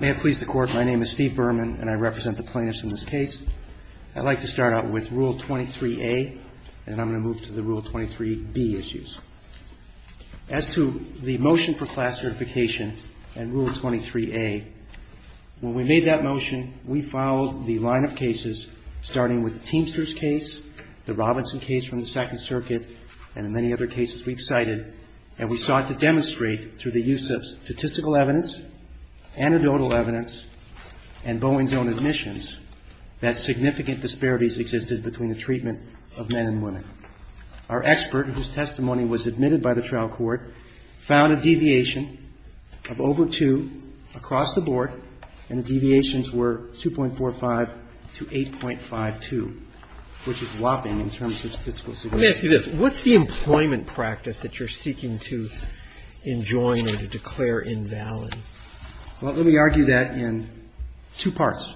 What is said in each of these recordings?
May it please the Court, my name is Steve Berman and I represent the plaintiffs in this case. I'd like to start out with Rule 23A and I'm going to move to the Rule 23B issues. As to the motion for class certification and Rule 23A, when we made that motion, we followed the line of cases starting with the Teamsters case, the Robinson case from the Second Circuit, and many other cases we've cited and we sought to demonstrate through the use of statistical evidence, anecdotal evidence, and Boeing's own admissions that significant disparities existed between the treatment of men and women. Our expert, whose testimony was admitted by the trial court, found a deviation of over two across the board and the deviations were 2.45 to 8.52, which is whopping in terms of statistical significance. Let me ask you this. What's the employment practice that you're seeking to enjoin or to declare invalid? Well, let me argue that in two parts.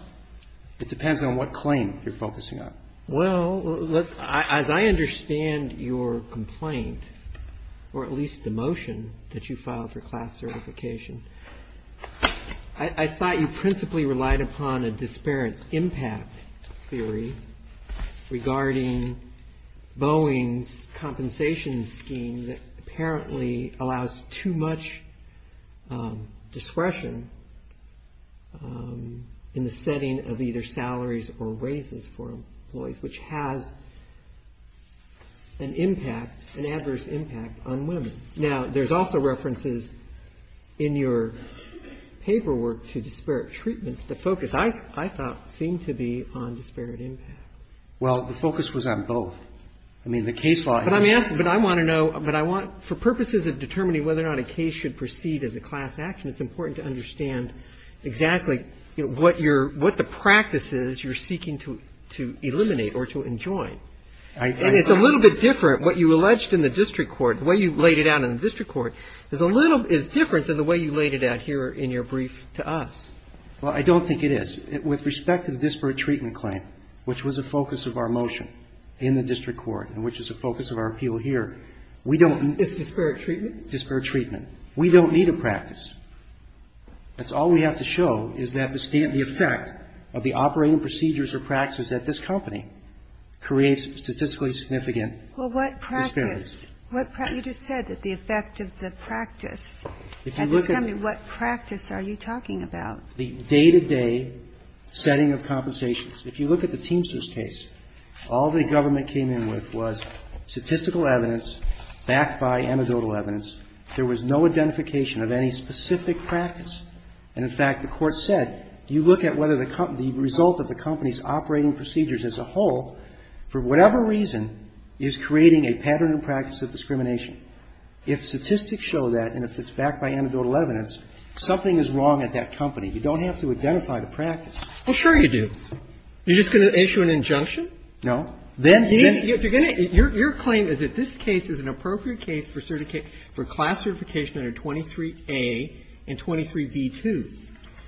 It depends on what claim you're focusing on. Well, as I understand your complaint, or at least the motion that you filed for class certification, I thought you principally relied upon a disparate impact theory regarding Boeing's compensation scheme that apparently allows too much discretion in the setting of either salaries or raises for employees, which has an adverse impact on women. Now, there's also references in your paperwork to disparate treatment. The focus, I thought, seemed to be on disparate impact. Well, the focus was on both. I mean, the case law in this case. But I'm asking, but I want to know, but I want, for purposes of determining whether or not a case should proceed as a class action, it's important to understand exactly what your, what the practice is you're seeking to eliminate or to enjoin. And it's a little bit different. What you alleged in the district court, the way you laid it out in the district court, is a little, is different than the way you laid it out here in your brief to us. Well, I don't think it is. With respect to the disparate treatment claim, which was a focus of our motion in the district court and which is a focus of our appeal here, we don't need to. Disparate treatment? Disparate treatment. We don't need a practice. That's all we have to show is that the effect of the operating procedures or practices at this company creates statistically significant. Well, what practice? Disparities. You just said that the effect of the practice. If you look at. At this company, what practice are you talking about? The day-to-day setting of compensations. If you look at the Teamsters case, all the government came in with was statistical evidence backed by anecdotal evidence. There was no identification of any specific practice. And, in fact, the Court said, do you look at whether the result of the company's operating procedures as a whole, for whatever reason, is creating a pattern of practice of discrimination? If statistics show that, and if it's backed by anecdotal evidence, something is wrong at that company. You don't have to identify the practice. Well, sure you do. You're just going to issue an injunction? No. Then, then. If you're going to. Your claim is that this case is an appropriate case for certification, for class certification under 23A and 23B2.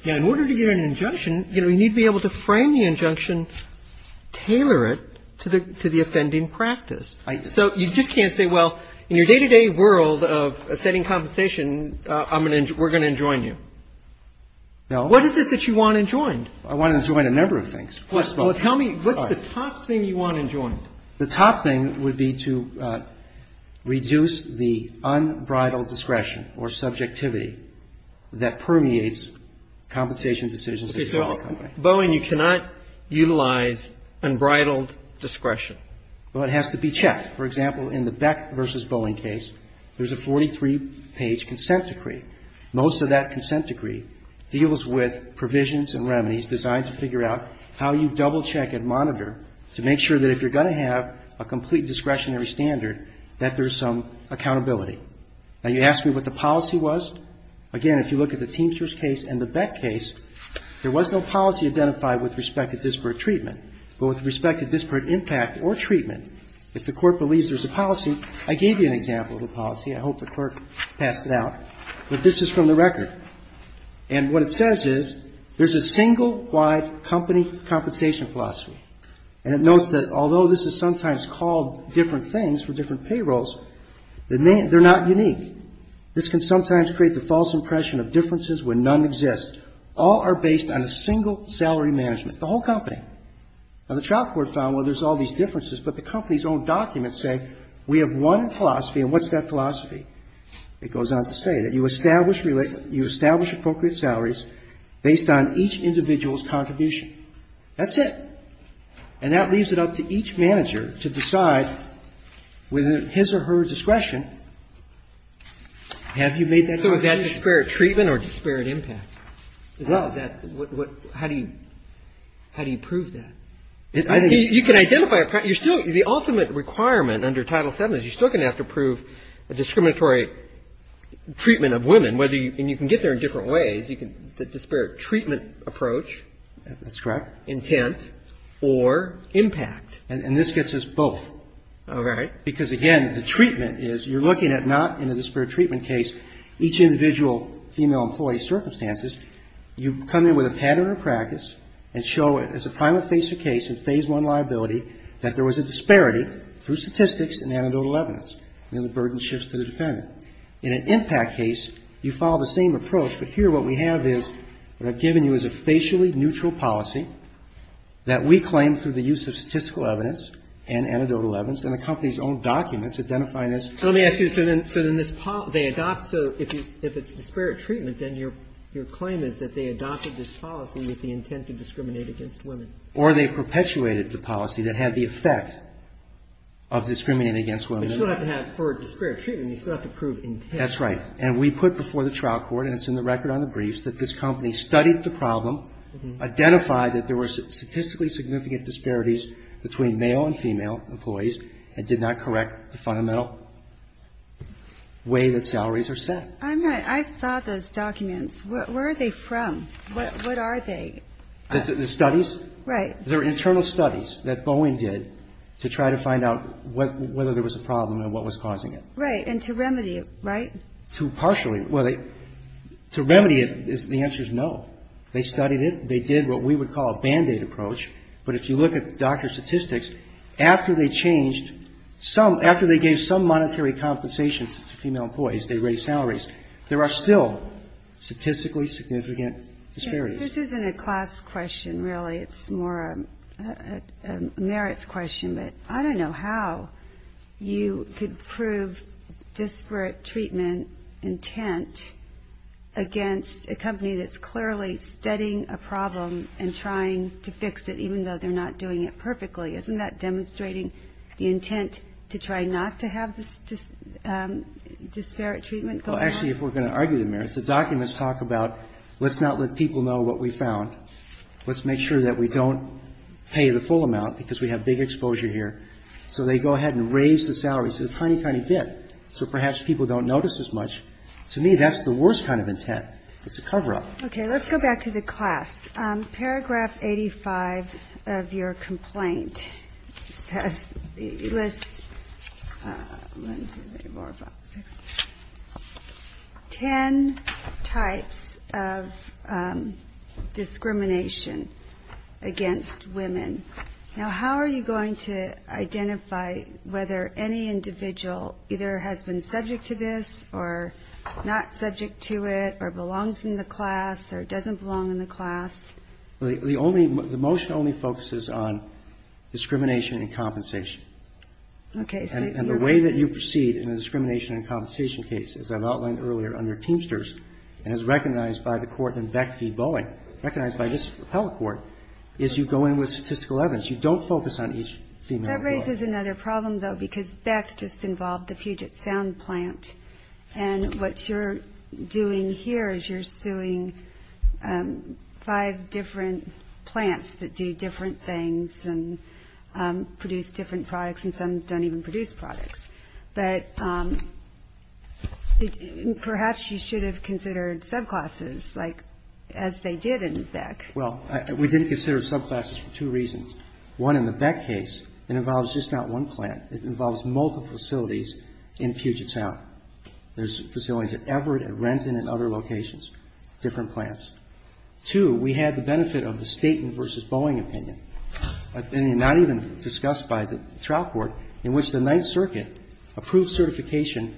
Now, in order to get an injunction, you know, you need to be able to frame the injunction, tailor it to the offending practice. So you just can't say, well, in your day-to-day world of setting compensation, I'm going to, we're going to enjoin you. No. What is it that you want enjoined? I want to enjoin a number of things. Well, tell me what's the top thing you want enjoined? The top thing would be to reduce the unbridled discretion or subjectivity that permeates compensation decisions. Okay. So Boeing, you cannot utilize unbridled discretion. Well, it has to be checked. For example, in the Beck v. Boeing case, there's a 43-page consent decree. Most of that consent decree deals with provisions and remedies designed to figure out how you double-check and monitor to make sure that if you're going to have a complete discretionary standard, that there's some accountability. Now, you asked me what the policy was. Again, if you look at the Teamsters case and the Beck case, there was no policy identified with respect to disparate treatment. But with respect to disparate impact or treatment, if the court believes there's a policy, I gave you an example of a policy. I hope the clerk passed it out. But this is from the record. And what it says is there's a single wide company compensation philosophy. And it notes that although this is sometimes called different things for different payrolls, they're not unique. This can sometimes create the false impression of differences when none exist. All are based on a single salary management, the whole company. Now, the trial court found, well, there's all these differences, but the company's own documents say we have one philosophy. And what's that philosophy? It goes on to say that you establish appropriate salaries based on each individual's contribution. That's it. And that leaves it up to each manager to decide, within his or her discretion, have you made that decision? So is that disparate treatment or disparate impact? How do you prove that? You can identify the ultimate requirement under Title VII is you're still going to have to prove a discriminatory treatment of women. And you can get there in different ways. The disparate treatment approach. That's correct. And this gets us both. All right. Because, again, the treatment is you're looking at not in a disparate treatment case each individual female employee's circumstances. You come in with a pattern of practice and show it as a primate facer case, a Phase I liability, that there was a disparity through statistics and anecdotal evidence. And then the burden shifts to the defendant. In an impact case, you follow the same approach. But here what we have is what I've given you is a facially neutral policy that we claim through the use of statistical evidence and anecdotal evidence and the company's own documents identifying this. Let me ask you, so then this policy, they adopt, so if it's disparate treatment, then your claim is that they adopted this policy with the intent to discriminate against women. Or they perpetuated the policy that had the effect of discriminating against women. You still have to have, for disparate treatment, you still have to prove intent. That's right. And we put before the trial court, and it's in the record on the briefs, that this company studied the problem, identified that there were statistically significant disparities between male and female employees, and did not correct the fundamental way that salaries are set. I'm not, I saw those documents. Where are they from? What are they? The studies? Right. They're internal studies that Boeing did to try to find out whether there was a problem and what was causing it. Right. And to remedy it, right? To partially. Well, to remedy it, the answer is no. They studied it. They did what we would call a Band-Aid approach. But if you look at doctor statistics, after they changed some, after they gave some monetary compensation to female employees, they raised salaries, there are still statistically significant disparities. This isn't a class question, really. It's more a merits question. But I don't know how you could prove disparate treatment intent against a company that's clearly studying a problem and trying to fix it, even though they're not doing it perfectly. Isn't that demonstrating the intent to try not to have this disparate treatment going on? Well, actually, if we're going to argue the merits, the documents talk about let's not let people know what we found. Let's make sure that we don't pay the full amount because we have big exposure here. So they go ahead and raise the salaries to a tiny, tiny bit. So perhaps people don't notice as much. To me, that's the worst kind of intent. It's a cover-up. Okay. Let's go back to the class. Paragraph 85 of your complaint lists ten types of discrimination against women. Now, how are you going to identify whether any individual either has been subject to this or not subject to it or belongs in the class or doesn't belong in the class? The only the motion only focuses on discrimination and compensation. Okay. And the way that you proceed in a discrimination and compensation case, as I've outlined earlier under Teamsters and as recognized by the court in Beck v. Boeing, recognized by this appellate court, is you go in with statistical evidence. You don't focus on each female employee. This is another problem, though, because Beck just involved the Puget Sound plant. And what you're doing here is you're suing five different plants that do different things and produce different products, and some don't even produce products. But perhaps you should have considered subclasses, as they did in Beck. Well, we didn't consider subclasses for two reasons. One, in the Beck case, it involves just not one plant. It involves multiple facilities in Puget Sound. There's facilities at Everett, at Renton and other locations, different plants. Two, we had the benefit of the Staten v. Boeing opinion, opinion not even discussed by the trial court, in which the Ninth Circuit approved certification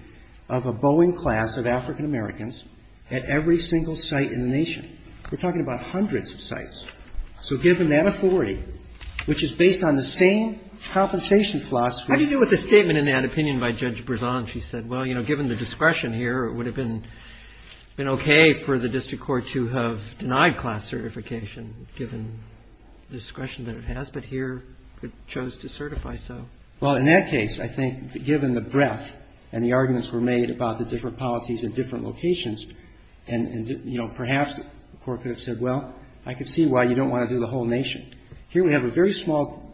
of a Boeing class of African-Americans at every single site in the nation. We're talking about hundreds of sites. So given that authority, which is based on the same compensation philosophy How do you deal with the statement in that opinion by Judge Brisson? She said, well, you know, given the discretion here, it would have been okay for the district court to have denied class certification, given the discretion that it has. But here it chose to certify so. Well, in that case, I think, given the breadth and the arguments were made about the different policies at different locations, and, you know, perhaps the court could have said, well, I could see why you don't want to do the whole nation. Here we have a very small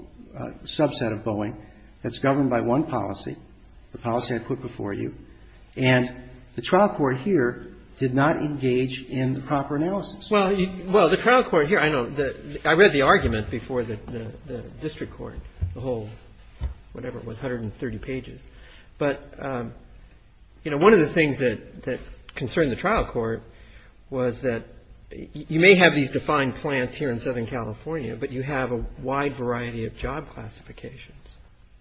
subset of Boeing that's governed by one policy, the policy I put before you. And the trial court here did not engage in the proper analysis. Well, the trial court here, I know, I read the argument before the district court, the whole whatever it was, 130 pages. But, you know, one of the things that concerned the trial court was that you may have these defined plants here in Southern California, but you have a wide variety of job classifications.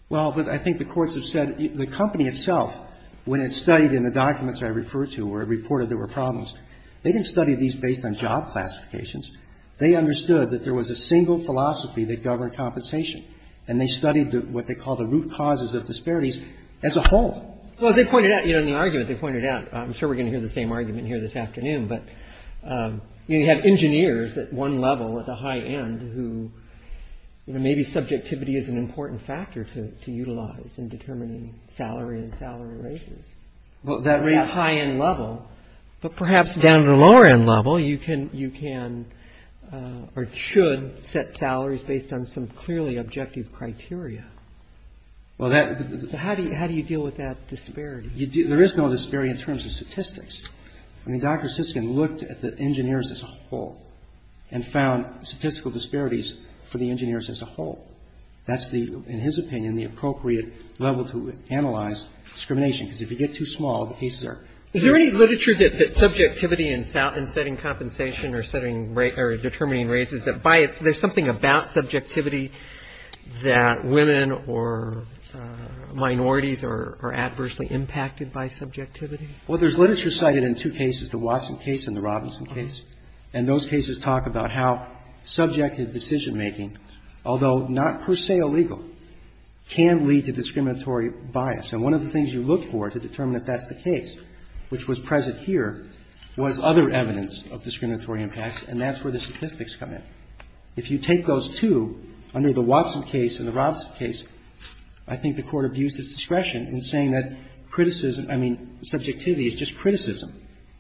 Well, but I think the courts have said the company itself, when it studied in the documents I referred to where it reported there were problems, they didn't study these based on job classifications. They understood that there was a single philosophy that governed compensation, and they studied what they call the root causes of disparities as a whole. Well, they pointed out, you know, in the argument they pointed out, I'm sure we're going to hear the same argument here this afternoon, but, you know, you have engineers at one level at the high end who, you know, maybe subjectivity is an important factor to utilize in determining salary and salary rates. Well, that rate. At that high end level. But perhaps down at the lower end level you can or should set salaries based on some clearly objective criteria. Well, that. How do you deal with that disparity? There is no disparity in terms of statistics. I mean, Dr. Siskin looked at the engineers as a whole and found statistical disparities for the engineers as a whole. That's the, in his opinion, the appropriate level to analyze discrimination because if you get too small, the cases are. Is there any literature that subjectivity in setting compensation or determining about subjectivity that women or minorities are adversely impacted by subjectivity? Well, there's literature cited in two cases, the Watson case and the Robinson case, and those cases talk about how subjective decision-making, although not per se illegal, can lead to discriminatory bias. And one of the things you look for to determine if that's the case, which was present here, was other evidence of discriminatory impacts, and that's where the statistics come in. If you take those two, under the Watson case and the Robinson case, I think the Court abused its discretion in saying that criticism, I mean, subjectivity is just criticism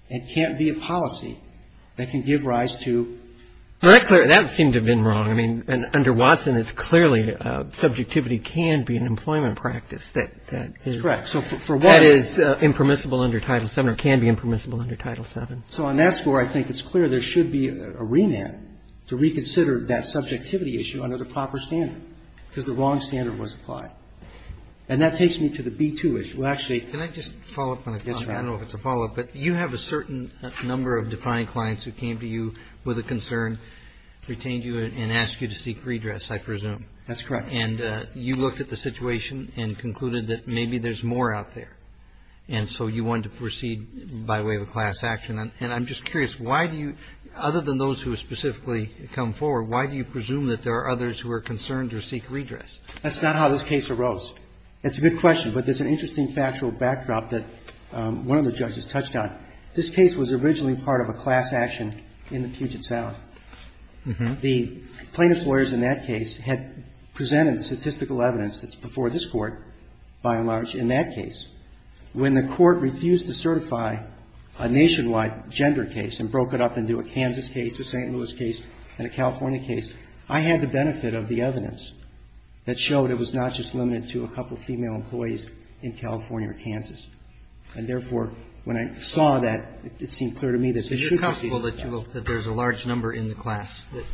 and can't be a policy that can give rise to. Well, that seemed to have been wrong. I mean, under Watson it's clearly subjectivity can be an employment practice that is. That's correct. That is impermissible under Title VII or can be impermissible under Title VII. So on that score, I think it's clear there should be a remand to reconsider that subjectivity issue under the proper standard, because the wrong standard was applied. And that takes me to the B-2 issue. Actually. Can I just follow up on it? I don't know if it's a follow-up, but you have a certain number of defiant clients who came to you with a concern, retained you and asked you to seek redress, I presume. That's correct. And you looked at the situation and concluded that maybe there's more out there. And so you wanted to proceed by way of a class action. And I'm just curious, why do you, other than those who specifically come forward, why do you presume that there are others who are concerned or seek redress? That's not how this case arose. That's a good question, but there's an interesting factual backdrop that one of the judges touched on. This case was originally part of a class action in the Puget Sound. The plaintiff's lawyers in that case had presented the statistical evidence that's before this Court, by and large, in that case. When the Court refused to certify a nationwide gender case and broke it up into a Kansas case, a St. Louis case and a California case, I had the benefit of the evidence that showed it was not just limited to a couple of female employees in California or Kansas. And therefore, when I saw that, it seemed clear to me that they should proceed And I'm just curious, why do you presume that there are others who are concerned Because you have a fairly large group of people that you will – that there's a large number in the class that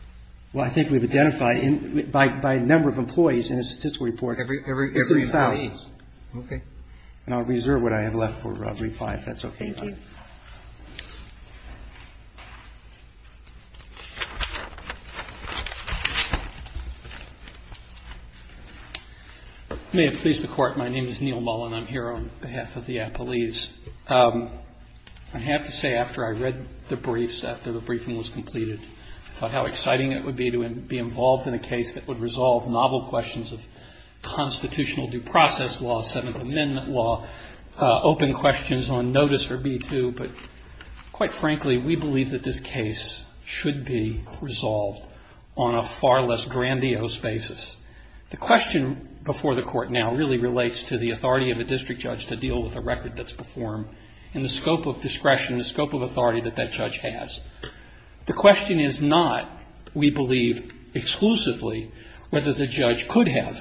– Well, I think we've identified, by number of employees in a statistical report, it's 3,000. Okay. Thank you. May it please the Court, my name is Neal Mullen. I'm here on behalf of the appellees. I have to say, after I read the briefs, after the briefing was completed, I thought how exciting it would be to be involved in a case that would resolve novel questions of constitutional due process law, Seventh Amendment law, open questions on notice or B-2. But quite frankly, we believe that this case should be resolved on a far less grandiose basis. The question before the Court now really relates to the authority of a district judge to deal with a record that's performed and the scope of discretion, the scope of authority that that judge has. The question is not, we believe, exclusively whether the judge could have,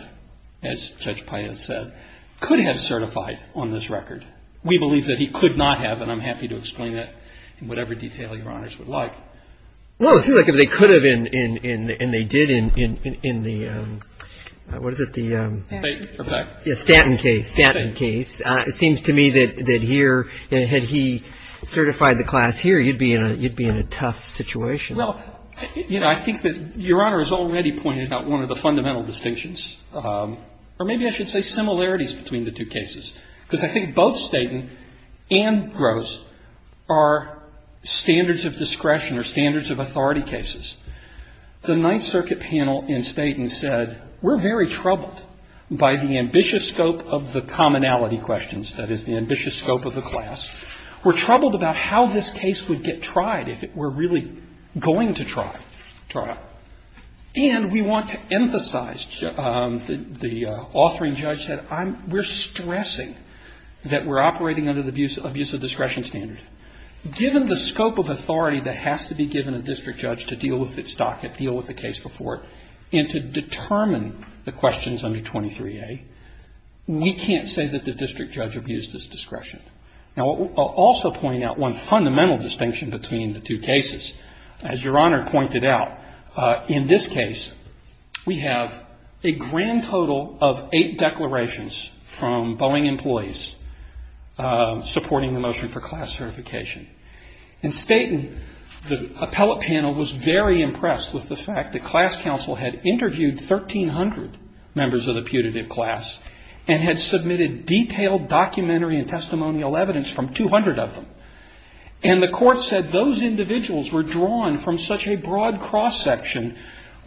as Judge Paez said, could have certified on this record. We believe that he could not have, and I'm happy to explain that in whatever detail Your Honors would like. Well, it seems like if they could have and they did in the, what is it, the Stanton case, it seems to me that here, had he certified the class here, you'd be in a tough situation. Well, you know, I think that Your Honor has already pointed out one of the fundamental distinctions, or maybe I should say similarities between the two cases. Because I think both Stanton and Gross are standards of discretion or standards of authority cases. The Ninth Circuit panel in Stanton said, we're very troubled by the ambitious scope of the commonality questions, that is, the ambitious scope of the class. We're troubled about how this case would get tried if it were really going to try trial. And we want to emphasize, the authoring judge said, we're stressing that we're operating under the abuse of discretion standard. Given the scope of authority that has to be given a district judge to deal with its docket, deal with the case before it, and to determine the questions under 23A, we can't say that the district judge abused his discretion. Now, I'll also point out one fundamental distinction between the two cases. As Your Honor pointed out, in this case, we have a grand total of eight declarations from Boeing employees supporting the motion for class certification. In Stanton, the appellate panel was very impressed with the fact that class counsel had interviewed 1,300 members of the putative class and had submitted detailed documentary and testimonial evidence from 200 of them. And the court said those individuals were drawn from such a broad cross-section,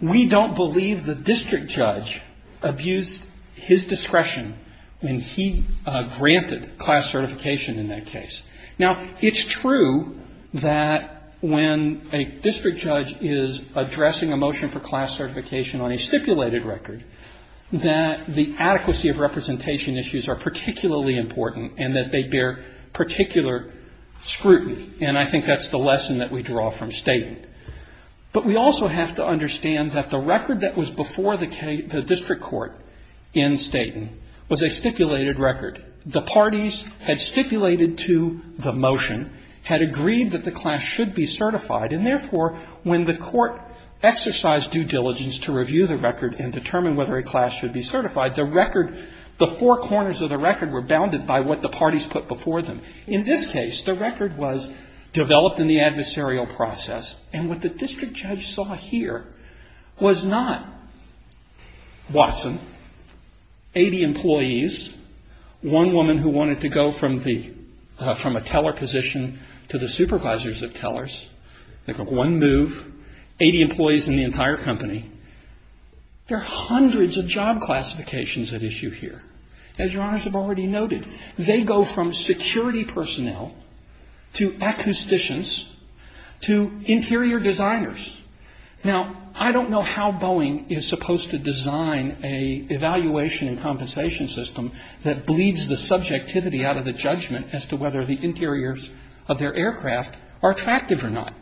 we don't believe the district judge abused his discretion when he granted class certification in that case. Now, it's true that when a district judge is addressing a motion for class certification on a stipulated record, that the adequacy of representation issues are particularly important and that they bear particular scrutiny. And I think that's the lesson that we draw from Stanton. But we also have to understand that the record that was before the district court in Stanton was a stipulated record. The parties had stipulated to the motion, had agreed that the class should be certified, and therefore, when the court exercised due diligence to review the record and put before them. In this case, the record was developed in the adversarial process. And what the district judge saw here was not Watson, 80 employees, one woman who wanted to go from a teller position to the supervisors of tellers. They got one move, 80 employees in the entire company. There are hundreds of job classifications at issue here. As Your Honors have already noted, they go from security personnel to acousticians to interior designers. Now, I don't know how Boeing is supposed to design an evaluation and compensation system that bleeds the subjectivity out of the judgment as to whether the interiors of their aircraft are attractive or not.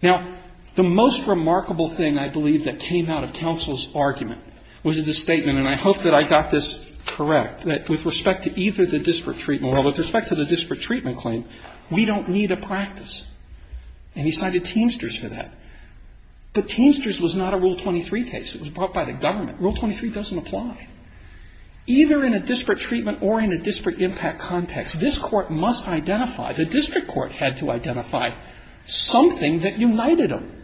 Now, the most remarkable thing I believe that came out of counsel's argument was this. And I hope that I got this correct, that with respect to either the disparate treatment, well, with respect to the disparate treatment claim, we don't need a practice. And he cited Teamsters for that. But Teamsters was not a Rule 23 case. It was brought by the government. Rule 23 doesn't apply. Either in a disparate treatment or in a disparate impact context, this Court must identify, the district court had to identify something that united them.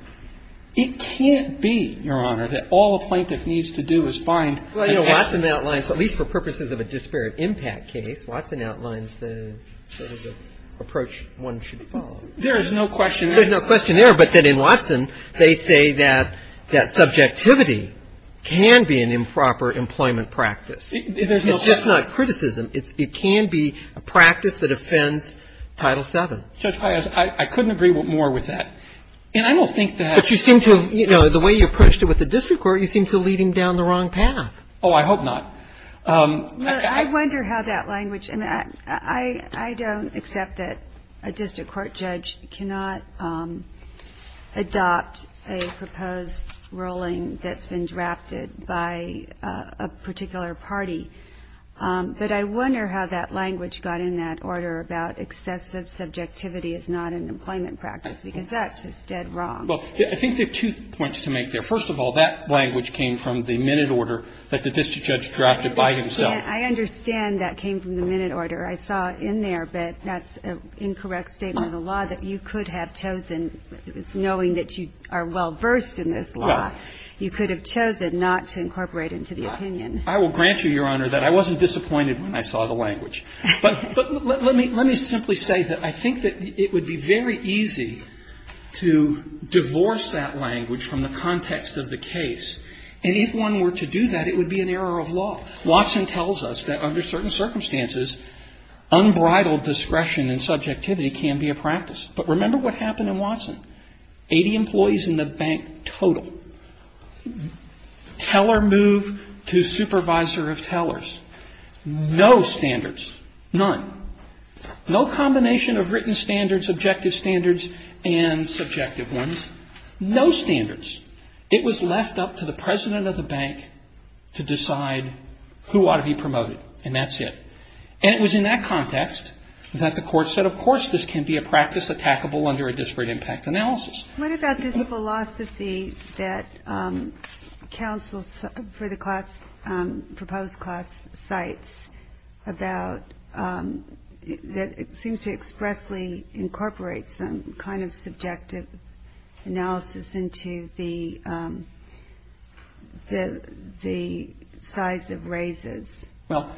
It can't be, Your Honor, that all a plaintiff needs to do is find an exit. Well, you know, Watson outlines, at least for purposes of a disparate impact case, Watson outlines the sort of approach one should follow. There is no question there. There's no question there. But then in Watson, they say that that subjectivity can be an improper employment practice. It's just not criticism. It can be a practice that offends Title VII. Judge, I couldn't agree more with that. And I don't think that But you seem to have, you know, the way you approached it with the district court, you seem to lead him down the wrong path. Oh, I hope not. I wonder how that language, and I don't accept that a district court judge cannot adopt a proposed ruling that's been drafted by a particular party. But I wonder how that language got in that order about excessive subjectivity is not an employment practice, because that's just dead wrong. Well, I think there are two points to make there. First of all, that language came from the minute order that the district judge drafted by himself. I understand that came from the minute order. I saw in there, but that's an incorrect statement of the law, that you could have chosen, knowing that you are well-versed in this law, you could have chosen not to incorporate into the opinion. I will grant you, Your Honor, that I wasn't disappointed when I saw the language. But let me simply say that I think that it would be very easy to divorce that language from the context of the case. And if one were to do that, it would be an error of law. Watson tells us that under certain circumstances, unbridled discretion and subjectivity can be a practice. But remember what happened in Watson. Eighty employees in the bank total. Teller moved to supervisor of tellers. No standards. None. No combination of written standards, objective standards, and subjective ones. No standards. It was left up to the president of the bank to decide who ought to be promoted, and that's it. And it was in that context that the Court said, of course, this can be a practice attackable under a disparate impact analysis. What about this philosophy that counsel for the class, proposed class, cites about that seems to expressly incorporate some kind of subjective analysis into the size of raises? Well,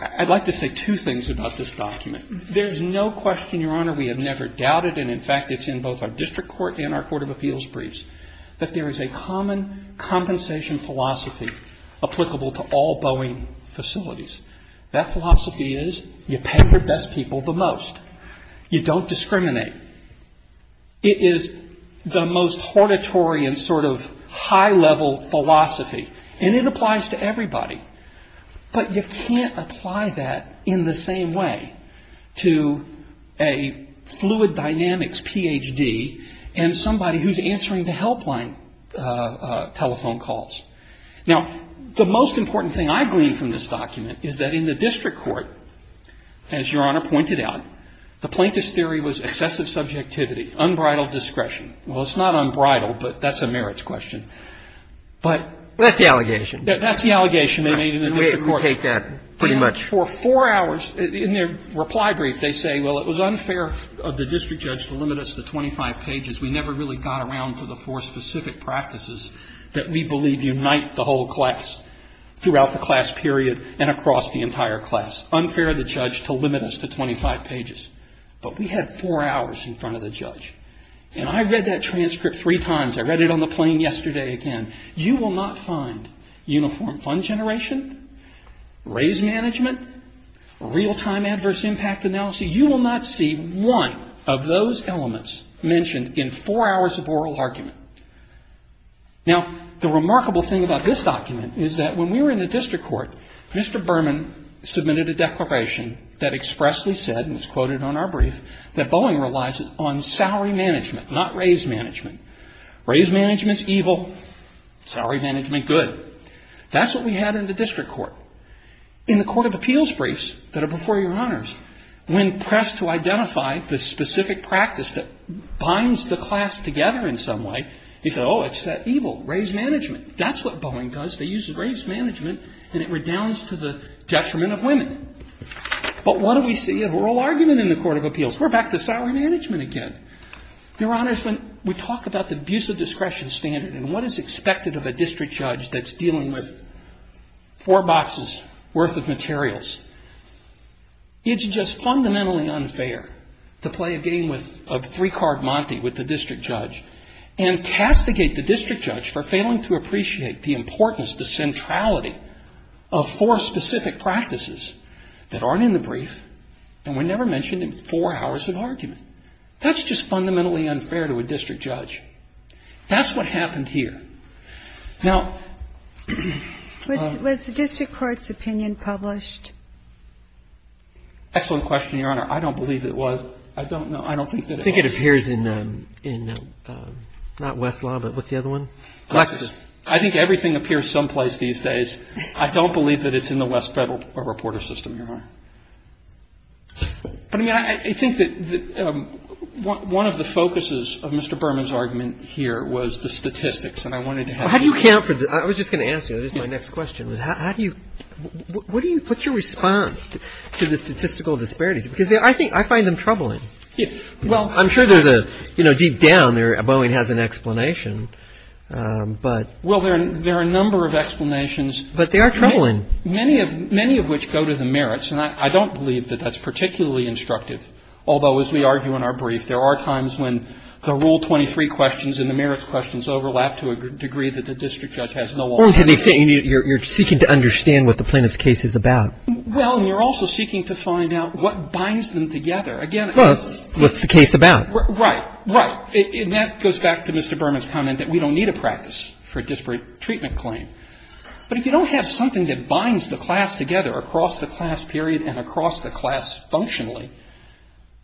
I'd like to say two things about this document. There's no question, Your Honor, we have never doubted. And in fact, it's in both our district court and our court of appeals briefs, that there is a common compensation philosophy applicable to all Boeing facilities. That philosophy is you pay your best people the most. You don't discriminate. It is the most hortatory and sort of high-level philosophy. And it applies to everybody. But you can't apply that in the same way to a fluid dynamics Ph.D. and somebody who's answering the helpline telephone calls. Now, the most important thing I gleaned from this document is that in the district court, as Your Honor pointed out, the plaintiff's theory was excessive subjectivity, unbridled discretion. Well, it's not unbridled, but that's a merits question. But that's the allegation. We take that pretty much. For four hours, in their reply brief, they say, well, it was unfair of the district judge to limit us to 25 pages. We never really got around to the four specific practices that we believe unite the whole class throughout the class period and across the entire class. Unfair of the judge to limit us to 25 pages. But we had four hours in front of the judge. And I read that transcript three times. I read it on the plane yesterday again. You will not find uniform fund generation, raise management, real-time adverse impact analysis. You will not see one of those elements mentioned in four hours of oral argument. Now, the remarkable thing about this document is that when we were in the district court, Mr. Berman submitted a declaration that expressly said, and it's quoted on our brief, that Boeing relies on salary management, not raise management. Raise management's evil. Salary management, good. That's what we had in the district court. In the court of appeals briefs that are before Your Honors, when pressed to identify the specific practice that binds the class together in some way, they said, oh, it's that evil, raise management. That's what Boeing does. They use raise management, and it redounds to the detriment of women. But what do we see of oral argument in the court of appeals? We're back to salary management again. Your Honors, when we talk about the abuse of discretion standard and what is expected of a district judge that's dealing with four boxes worth of materials, it's just fundamentally unfair to play a game of three-card Monty with the district judge and castigate the district judge for failing to appreciate the importance, the centrality of four specific practices that aren't in the brief and were never mentioned in four hours of argument. That's just fundamentally unfair to a district judge. That's what happened here. Now ---- Was the district court's opinion published? Excellent question, Your Honor. I don't believe it was. I don't know. I don't think that it was. I think it appears in not Westlaw, but what's the other one? Lexis. I think everything appears someplace these days. I don't believe that it's in the West Federal reporter system, Your Honor. But, I mean, I think that one of the focuses of Mr. Berman's argument here was the statistics, and I wanted to have you ---- Well, how do you count for the ---- I was just going to ask you. This is my next question. How do you ---- What do you put your response to the statistical disparities? Because I think ---- I find them troubling. Well, I'm sure there's a, you know, deep down there, Boeing has an explanation, but ---- Well, there are a number of explanations. But they are troubling. Many of which go to the merits, and I don't believe that that's particularly instructive. Although, as we argue in our brief, there are times when the Rule 23 questions and the merits questions overlap to a degree that the district judge has no alternative. You're seeking to understand what the plaintiff's case is about. Well, and you're also seeking to find out what binds them together. Again, it's ---- Plus, what's the case about? Right. Right. And that goes back to Mr. Berman's comment that we don't need a practice for a disparate treatment claim. But if you don't have something that binds the class together across the class period and across the class functionally,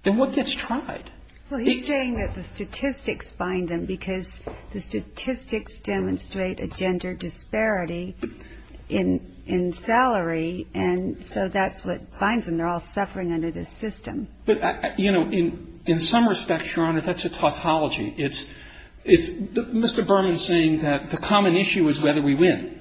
then what gets tried? Well, he's saying that the statistics bind them because the statistics demonstrate a gender disparity in salary. And so that's what binds them. They're all suffering under this system. But, you know, in some respects, Your Honor, that's a tautology. It's Mr. Berman saying that the common issue is whether we win.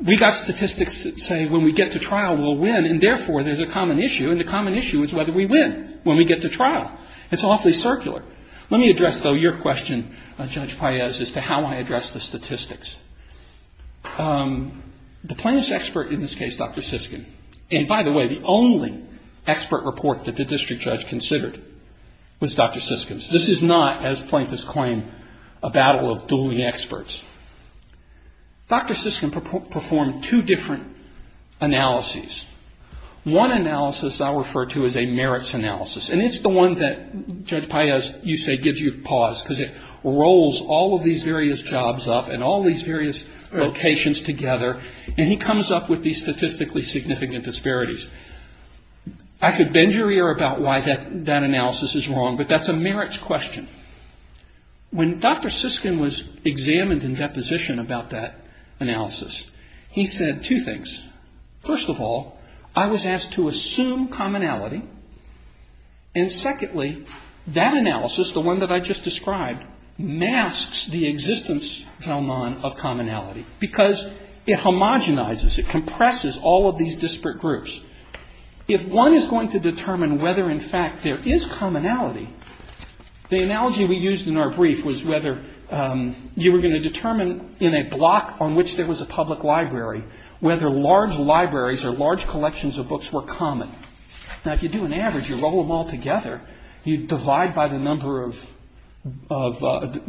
We've got statistics that say when we get to trial, we'll win, and therefore, there's a common issue. And the common issue is whether we win when we get to trial. It's awfully circular. Let me address, though, your question, Judge Paez, as to how I address the statistics. The plaintiff's expert in this case, Dr. Siskin, and by the way, the only expert report that the district judge considered was Dr. Siskin's. This is not, as plaintiffs claim, a battle of dueling experts. Dr. Siskin performed two different analyses. One analysis I'll refer to as a merits analysis, and it's the one that, Judge Paez, you say gives you pause because it rolls all of these various jobs up and all these various locations together, and he comes up with these statistically significant disparities. I could bend your ear about why that analysis is wrong, but that's a merits question. When Dr. Siskin was examined in deposition about that analysis, he said two things. First of all, I was asked to assume commonality. And secondly, that analysis, the one that I just described, masks the existence, commonality, because it homogenizes, it compresses all of these disparate groups. If one is going to determine whether in fact there is commonality, the analogy we used in our brief was whether you were going to determine in a block on which there was a public library whether large libraries or large collections of books were common. Now, if you do an average, you roll them all together, you divide by the number of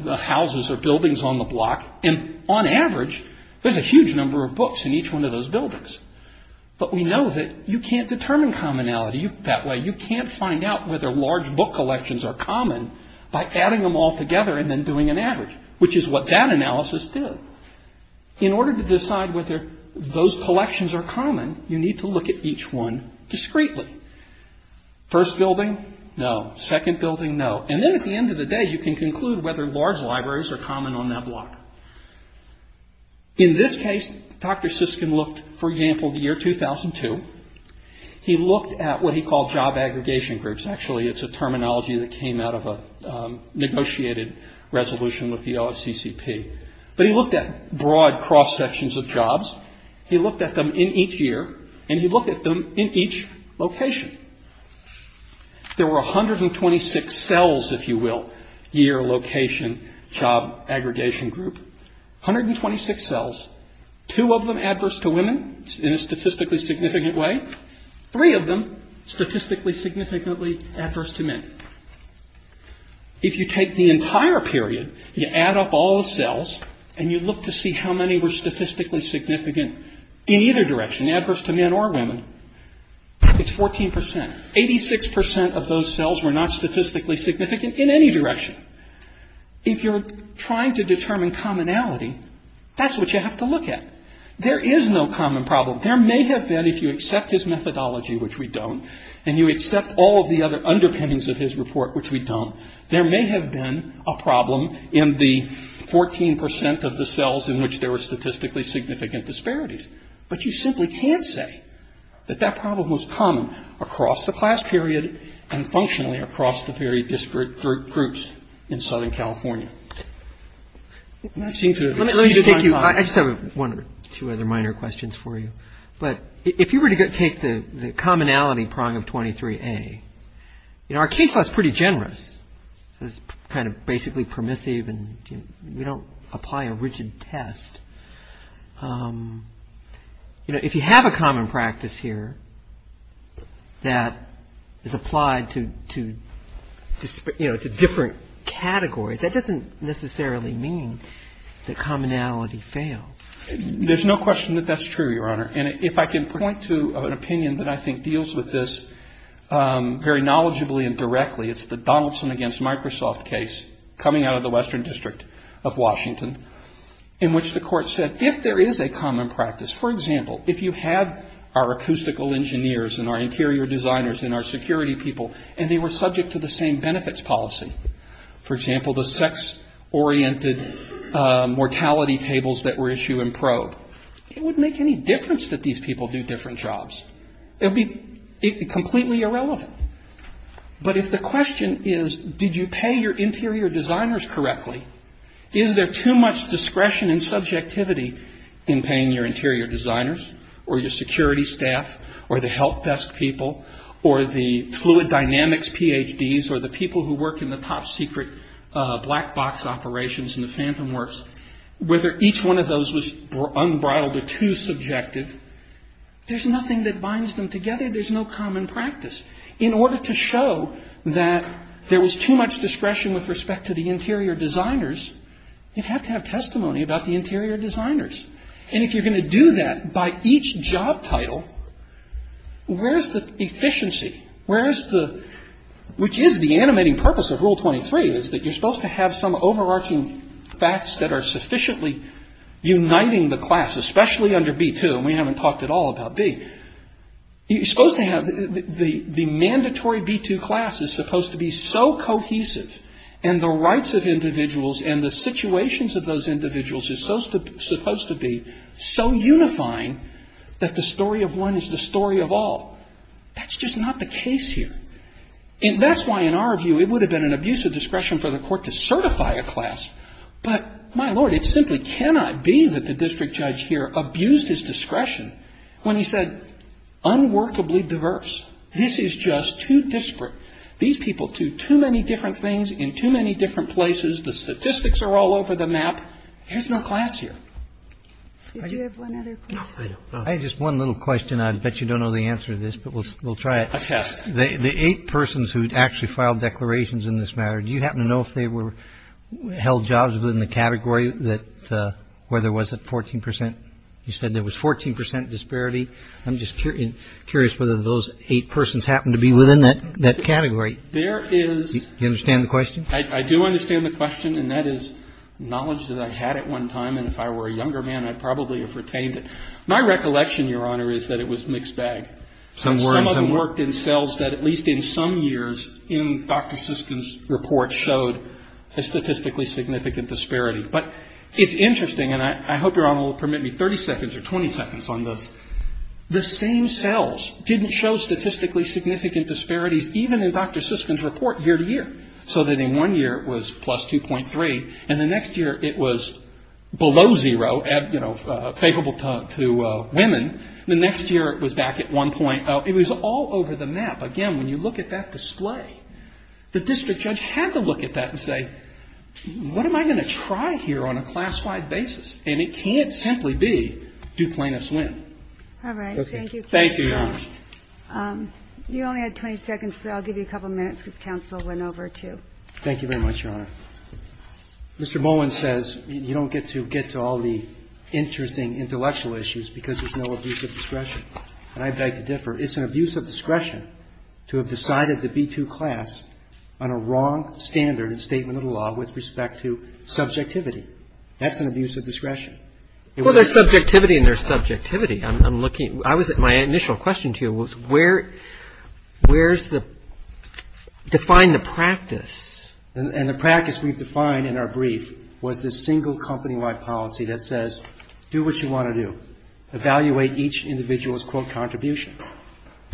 houses or buildings on the block, and on average, there's a huge number of books in each one of those buildings. But we know that you can't determine commonality that way. You can't find out whether large book collections are common by adding them all together and then doing an average, which is what that analysis did. In order to decide whether those collections are common, you need to look at each one discreetly. First building, no. Second building, no. And then at the end of the day, you can conclude whether large libraries are common on that block. In this case, Dr. Siskin looked, for example, at the year 2002. He looked at what he called job aggregation groups. Actually, it's a terminology that came out of a negotiated resolution with the OFCCP. But he looked at broad cross-sections of jobs. He looked at them in each year, and he looked at them in each location. There were 126 cells, if you will, year, location, job, aggregation group, 126 cells, two of them adverse to women in a statistically significant way, three of them statistically significantly adverse to men. If you take the entire period, you add up all the cells, and you look to see how many were statistically significant in either direction, it's 14 percent. Eighty-six percent of those cells were not statistically significant in any direction. If you're trying to determine commonality, that's what you have to look at. There is no common problem. There may have been, if you accept his methodology, which we don't, and you accept all of the other underpinnings of his report, which we don't, there may have been a problem in the 14 percent of the cells in which there were statistically significant disparities. But you simply can't say that that problem was common across the class period and functionally across the very disparate groups in Southern California. And I seem to have exceeded my time. I just have one or two other minor questions for you. But if you were to take the commonality prong of 23A, you know, our case law is pretty generous. It's kind of basically permissive, and we don't apply a rigid test. You know, if you have a common practice here that is applied to, you know, to different categories, that doesn't necessarily mean that commonality fails. There's no question that that's true, Your Honor. And if I can point to an opinion that I think deals with this very knowledgeably and directly, it's the Donaldson against Microsoft case coming out of the Western District of Washington in which the court said if there is a common practice, for example, if you have our acoustical engineers and our interior designers and our security people and they were subject to the same benefits policy, for example, the sex-oriented mortality tables that were issued in probe, it wouldn't make any difference that these people do different jobs. It would be completely irrelevant. But if the question is did you pay your interior designers correctly, is there too much discretion and subjectivity in paying your interior designers or your security staff or the help desk people or the fluid dynamics PhDs or the people who work in the top secret black box operations in the phantom works, whether each one of those was unbridled or too subjective, there's nothing that binds them together. There's no common practice. In order to show that there was too much discretion with respect to the interior designers, you'd have to have testimony about the interior designers. And if you're going to do that by each job title, where is the efficiency? Where is the – which is the animating purpose of Rule 23 is that you're supposed to have some overarching facts that are sufficiently uniting the class, especially under B2, and we haven't talked at all about B. You're supposed to have – the mandatory B2 class is supposed to be so cohesive and the rights of individuals and the situations of those individuals is supposed to be so unifying that the story of one is the story of all. That's just not the case here. That's why in our view it would have been an abuse of discretion for the court to certify a class. But, my Lord, it simply cannot be that the district judge here abused his discretion when he said, unworkably diverse. This is just too disparate. These people do too many different things in too many different places. The statistics are all over the map. There's no class here. MS. GOTTLIEB Did you have one other question? MR. BOUTROUS No, I don't. I had just one little question. I bet you don't know the answer to this, but we'll try it. MR. GOTTLIEB A test. MR. BOUTROUS The eight persons who actually filed declarations in this matter, do you happen to know if they were held jostly in the category that – where there was a 14 percent – you said there was 14 percent disparity. I'm just curious whether those eight persons happen to be within that category. MR. GOTTLIEB There is – MR. BOUTROUS Do you understand the question? MR. GOTTLIEB I do understand the question, and that is knowledge that I had at one time, and if I were a younger man, I probably would have retained it. My recollection, Your Honor, is that it was mixed bag. MR. BOUTROUS Some words. MR. GOTTLIEB Some of them worked in cells that at least in some years in Dr. Siskins' report showed a statistically significant disparity. But it's interesting, and I hope Your Honor will permit me 30 seconds or 20 seconds on this. The same cells didn't show statistically significant disparities even in Dr. Siskins' report year to year, so that in one year it was plus 2.3, and the next year it was below zero, you know, favorable to women. The next year it was back at 1.0. It was all over the map. Again, when you look at that display, the district judge had to look at that and say, what am I going to try here on a classified basis? And it can't simply be do plaintiffs win. MS. GOTTLIEB All right. Thank you. MR. BOUTROUS Thank you, Your Honor. MS. GOTTLIEB You only had 20 seconds, but I'll give you a couple of minutes because counsel went over, too. MR. BOUTROUS Thank you very much, Your Honor. Mr. Bowen says you don't get to get to all the interesting intellectual issues because there's no abuse of discretion. And I beg to differ. It's an abuse of discretion to have decided the B-2 class on a wrong standard in a statement of the law with respect to subjectivity. That's an abuse of discretion. MR. BOWEN Well, there's subjectivity and there's subjectivity. I'm looking at my initial question to you was where's the – define the practice. MR. BOUTROUS And the practice we've defined in our brief was this single company-wide policy that says do what you want to do. Evaluate each individual's, quote, contribution.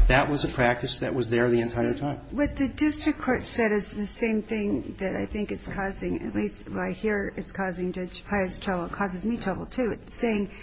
That was a practice that was there the entire time. MS. GOTTLIEB What the district court said is the same thing that I think is causing – at least what I hear is causing Judge Paia's trouble. It causes me trouble, too. It's saying –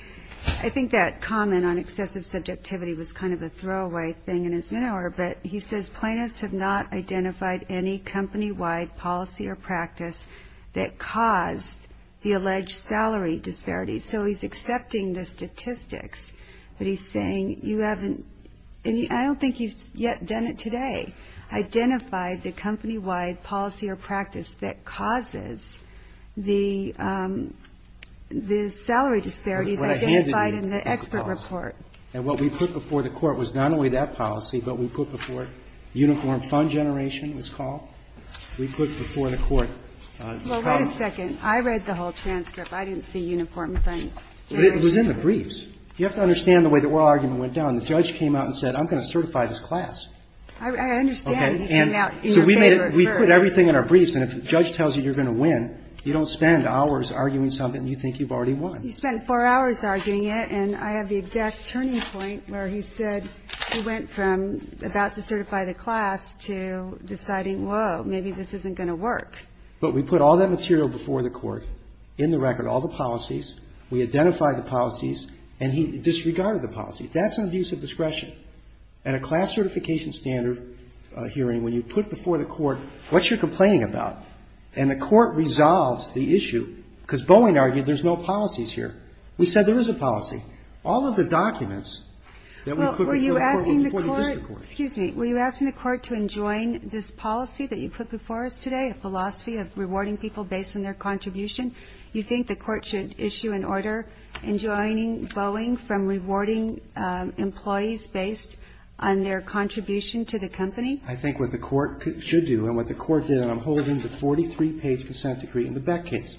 I think that comment on excessive subjectivity was kind of a throwaway thing in his memoir. But he says plaintiffs have not identified any company-wide policy or practice that caused the alleged salary disparity. So he's accepting the statistics. But he's saying you haven't – I don't think you've yet done it today. Identify the company-wide policy or practice that causes the salary disparities identified in the expert report. MR. BOUTROUS And what we put before the court was not only that policy, but we put before it uniform fund generation, it was called. We put before the court – MS. GOTTLIEB Well, wait a second. I read the whole transcript. I didn't see uniform fund generation. MR. BOUTROUS But it was in the briefs. You have to understand the way the oral argument went down. The judge came out and said I'm going to certify this class. MS. GOTTLIEB I understand. MR. BOUTROUS So we put everything in our briefs. And if the judge tells you you're going to win, you don't spend hours arguing something you think you've already won. MS. GOTTLIEB You spend four hours arguing it. And I have the exact turning point where he said he went from about to certify the class to deciding, whoa, maybe this isn't going to work. MR. BOUTROUS But we put all that material before the court, in the record, all the policies. We identified the policies. And he disregarded the policies. That's an abuse of discretion. At a class certification standard hearing, when you put before the court what you're complaining about, and the court resolves the issue, because Boeing argued there's no policies here. We said there is a policy. All of the documents that we put before the district court. MS. GOTTLIEB Were you asking the court to enjoin this policy that you put before us today, a philosophy of rewarding people based on their contribution? You think the court should issue an order enjoining Boeing from rewarding employees based on their contribution to the company? BOUTROUS I think what the court should do, and what the court did, and I'm holding the 43-page consent decree in the Beck case.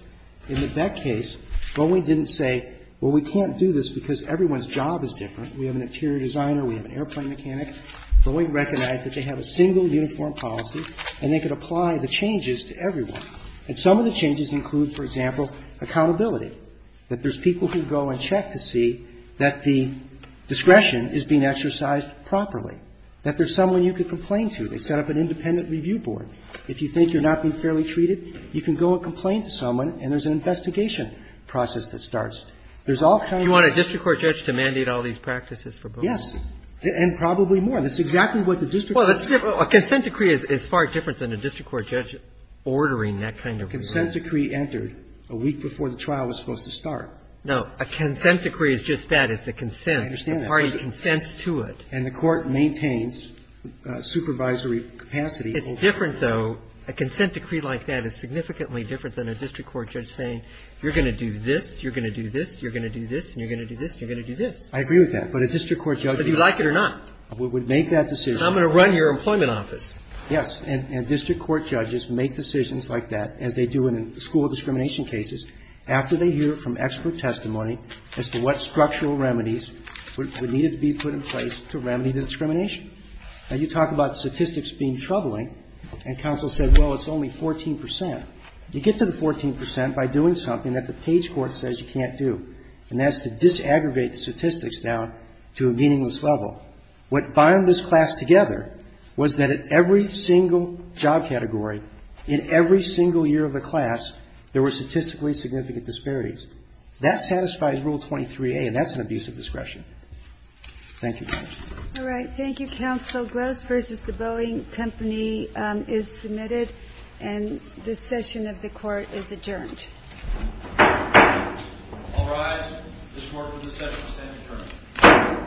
In the Beck case, Boeing didn't say, well, we can't do this because everyone's job is different. We have an interior designer. We have an airplane mechanic. Boeing recognized that they have a single uniform policy, and they could apply the changes to everyone. And some of the changes include, for example, accountability, that there's people who go and check to see that the discretion is being exercised properly, that there's someone you can complain to. They set up an independent review board. If you think you're not being fairly treated, you can go and complain to someone, and there's an investigation process that starts. There's all kinds of things. ROBERTS You want a district court judge to mandate all these practices for Boeing? BOUTROUS Yes. And probably more. That's exactly what the district court judge. ROBERTS Well, a consent decree is far different than a district court judge ordering that kind of review. BOUTROUS Consent decree entered a week before the trial was supposed to start. ROBERTS No. A consent decree is just that. It's a consent. BOUTROUS I understand that. ROBERTS A party consents to it. BOUTROUS And the court maintains supervisory capacity. ROBERTS It's different, though. A consent decree like that is significantly different than a district court judge saying, you're going to do this, you're going to do this, you're going to do this, and you're going to do this, and you're going to do this. BOUTROUS I agree with that. But a district court judge would not. ROBERTS But do you like it or not? BOUTROUS We would make that decision. ROBERTS I'm going to run your employment office. BOUTROUS Yes. And district court judges make decisions like that, as they do in school discrimination cases, after they hear from expert testimony as to what structural remedies would need to be put in place to remedy the discrimination. Now, you talk about statistics being troubling, and counsel said, well, it's only 14 percent. You get to the 14 percent by doing something that the page court says you can't do, and that's to disaggregate the statistics down to a meaningless level. What bound this class together was that at every single job category, in every single year of the class, there were statistically significant disparities. That satisfies Rule 23a, and that's an abuse of discretion. GINSBURG All right. Thank you, counsel. Gross v. The Boeing Company is submitted, and this session of the Court is adjourned. BOUTROUS All rise. This Court for this session stands adjourned. BOUTROUS Thank you.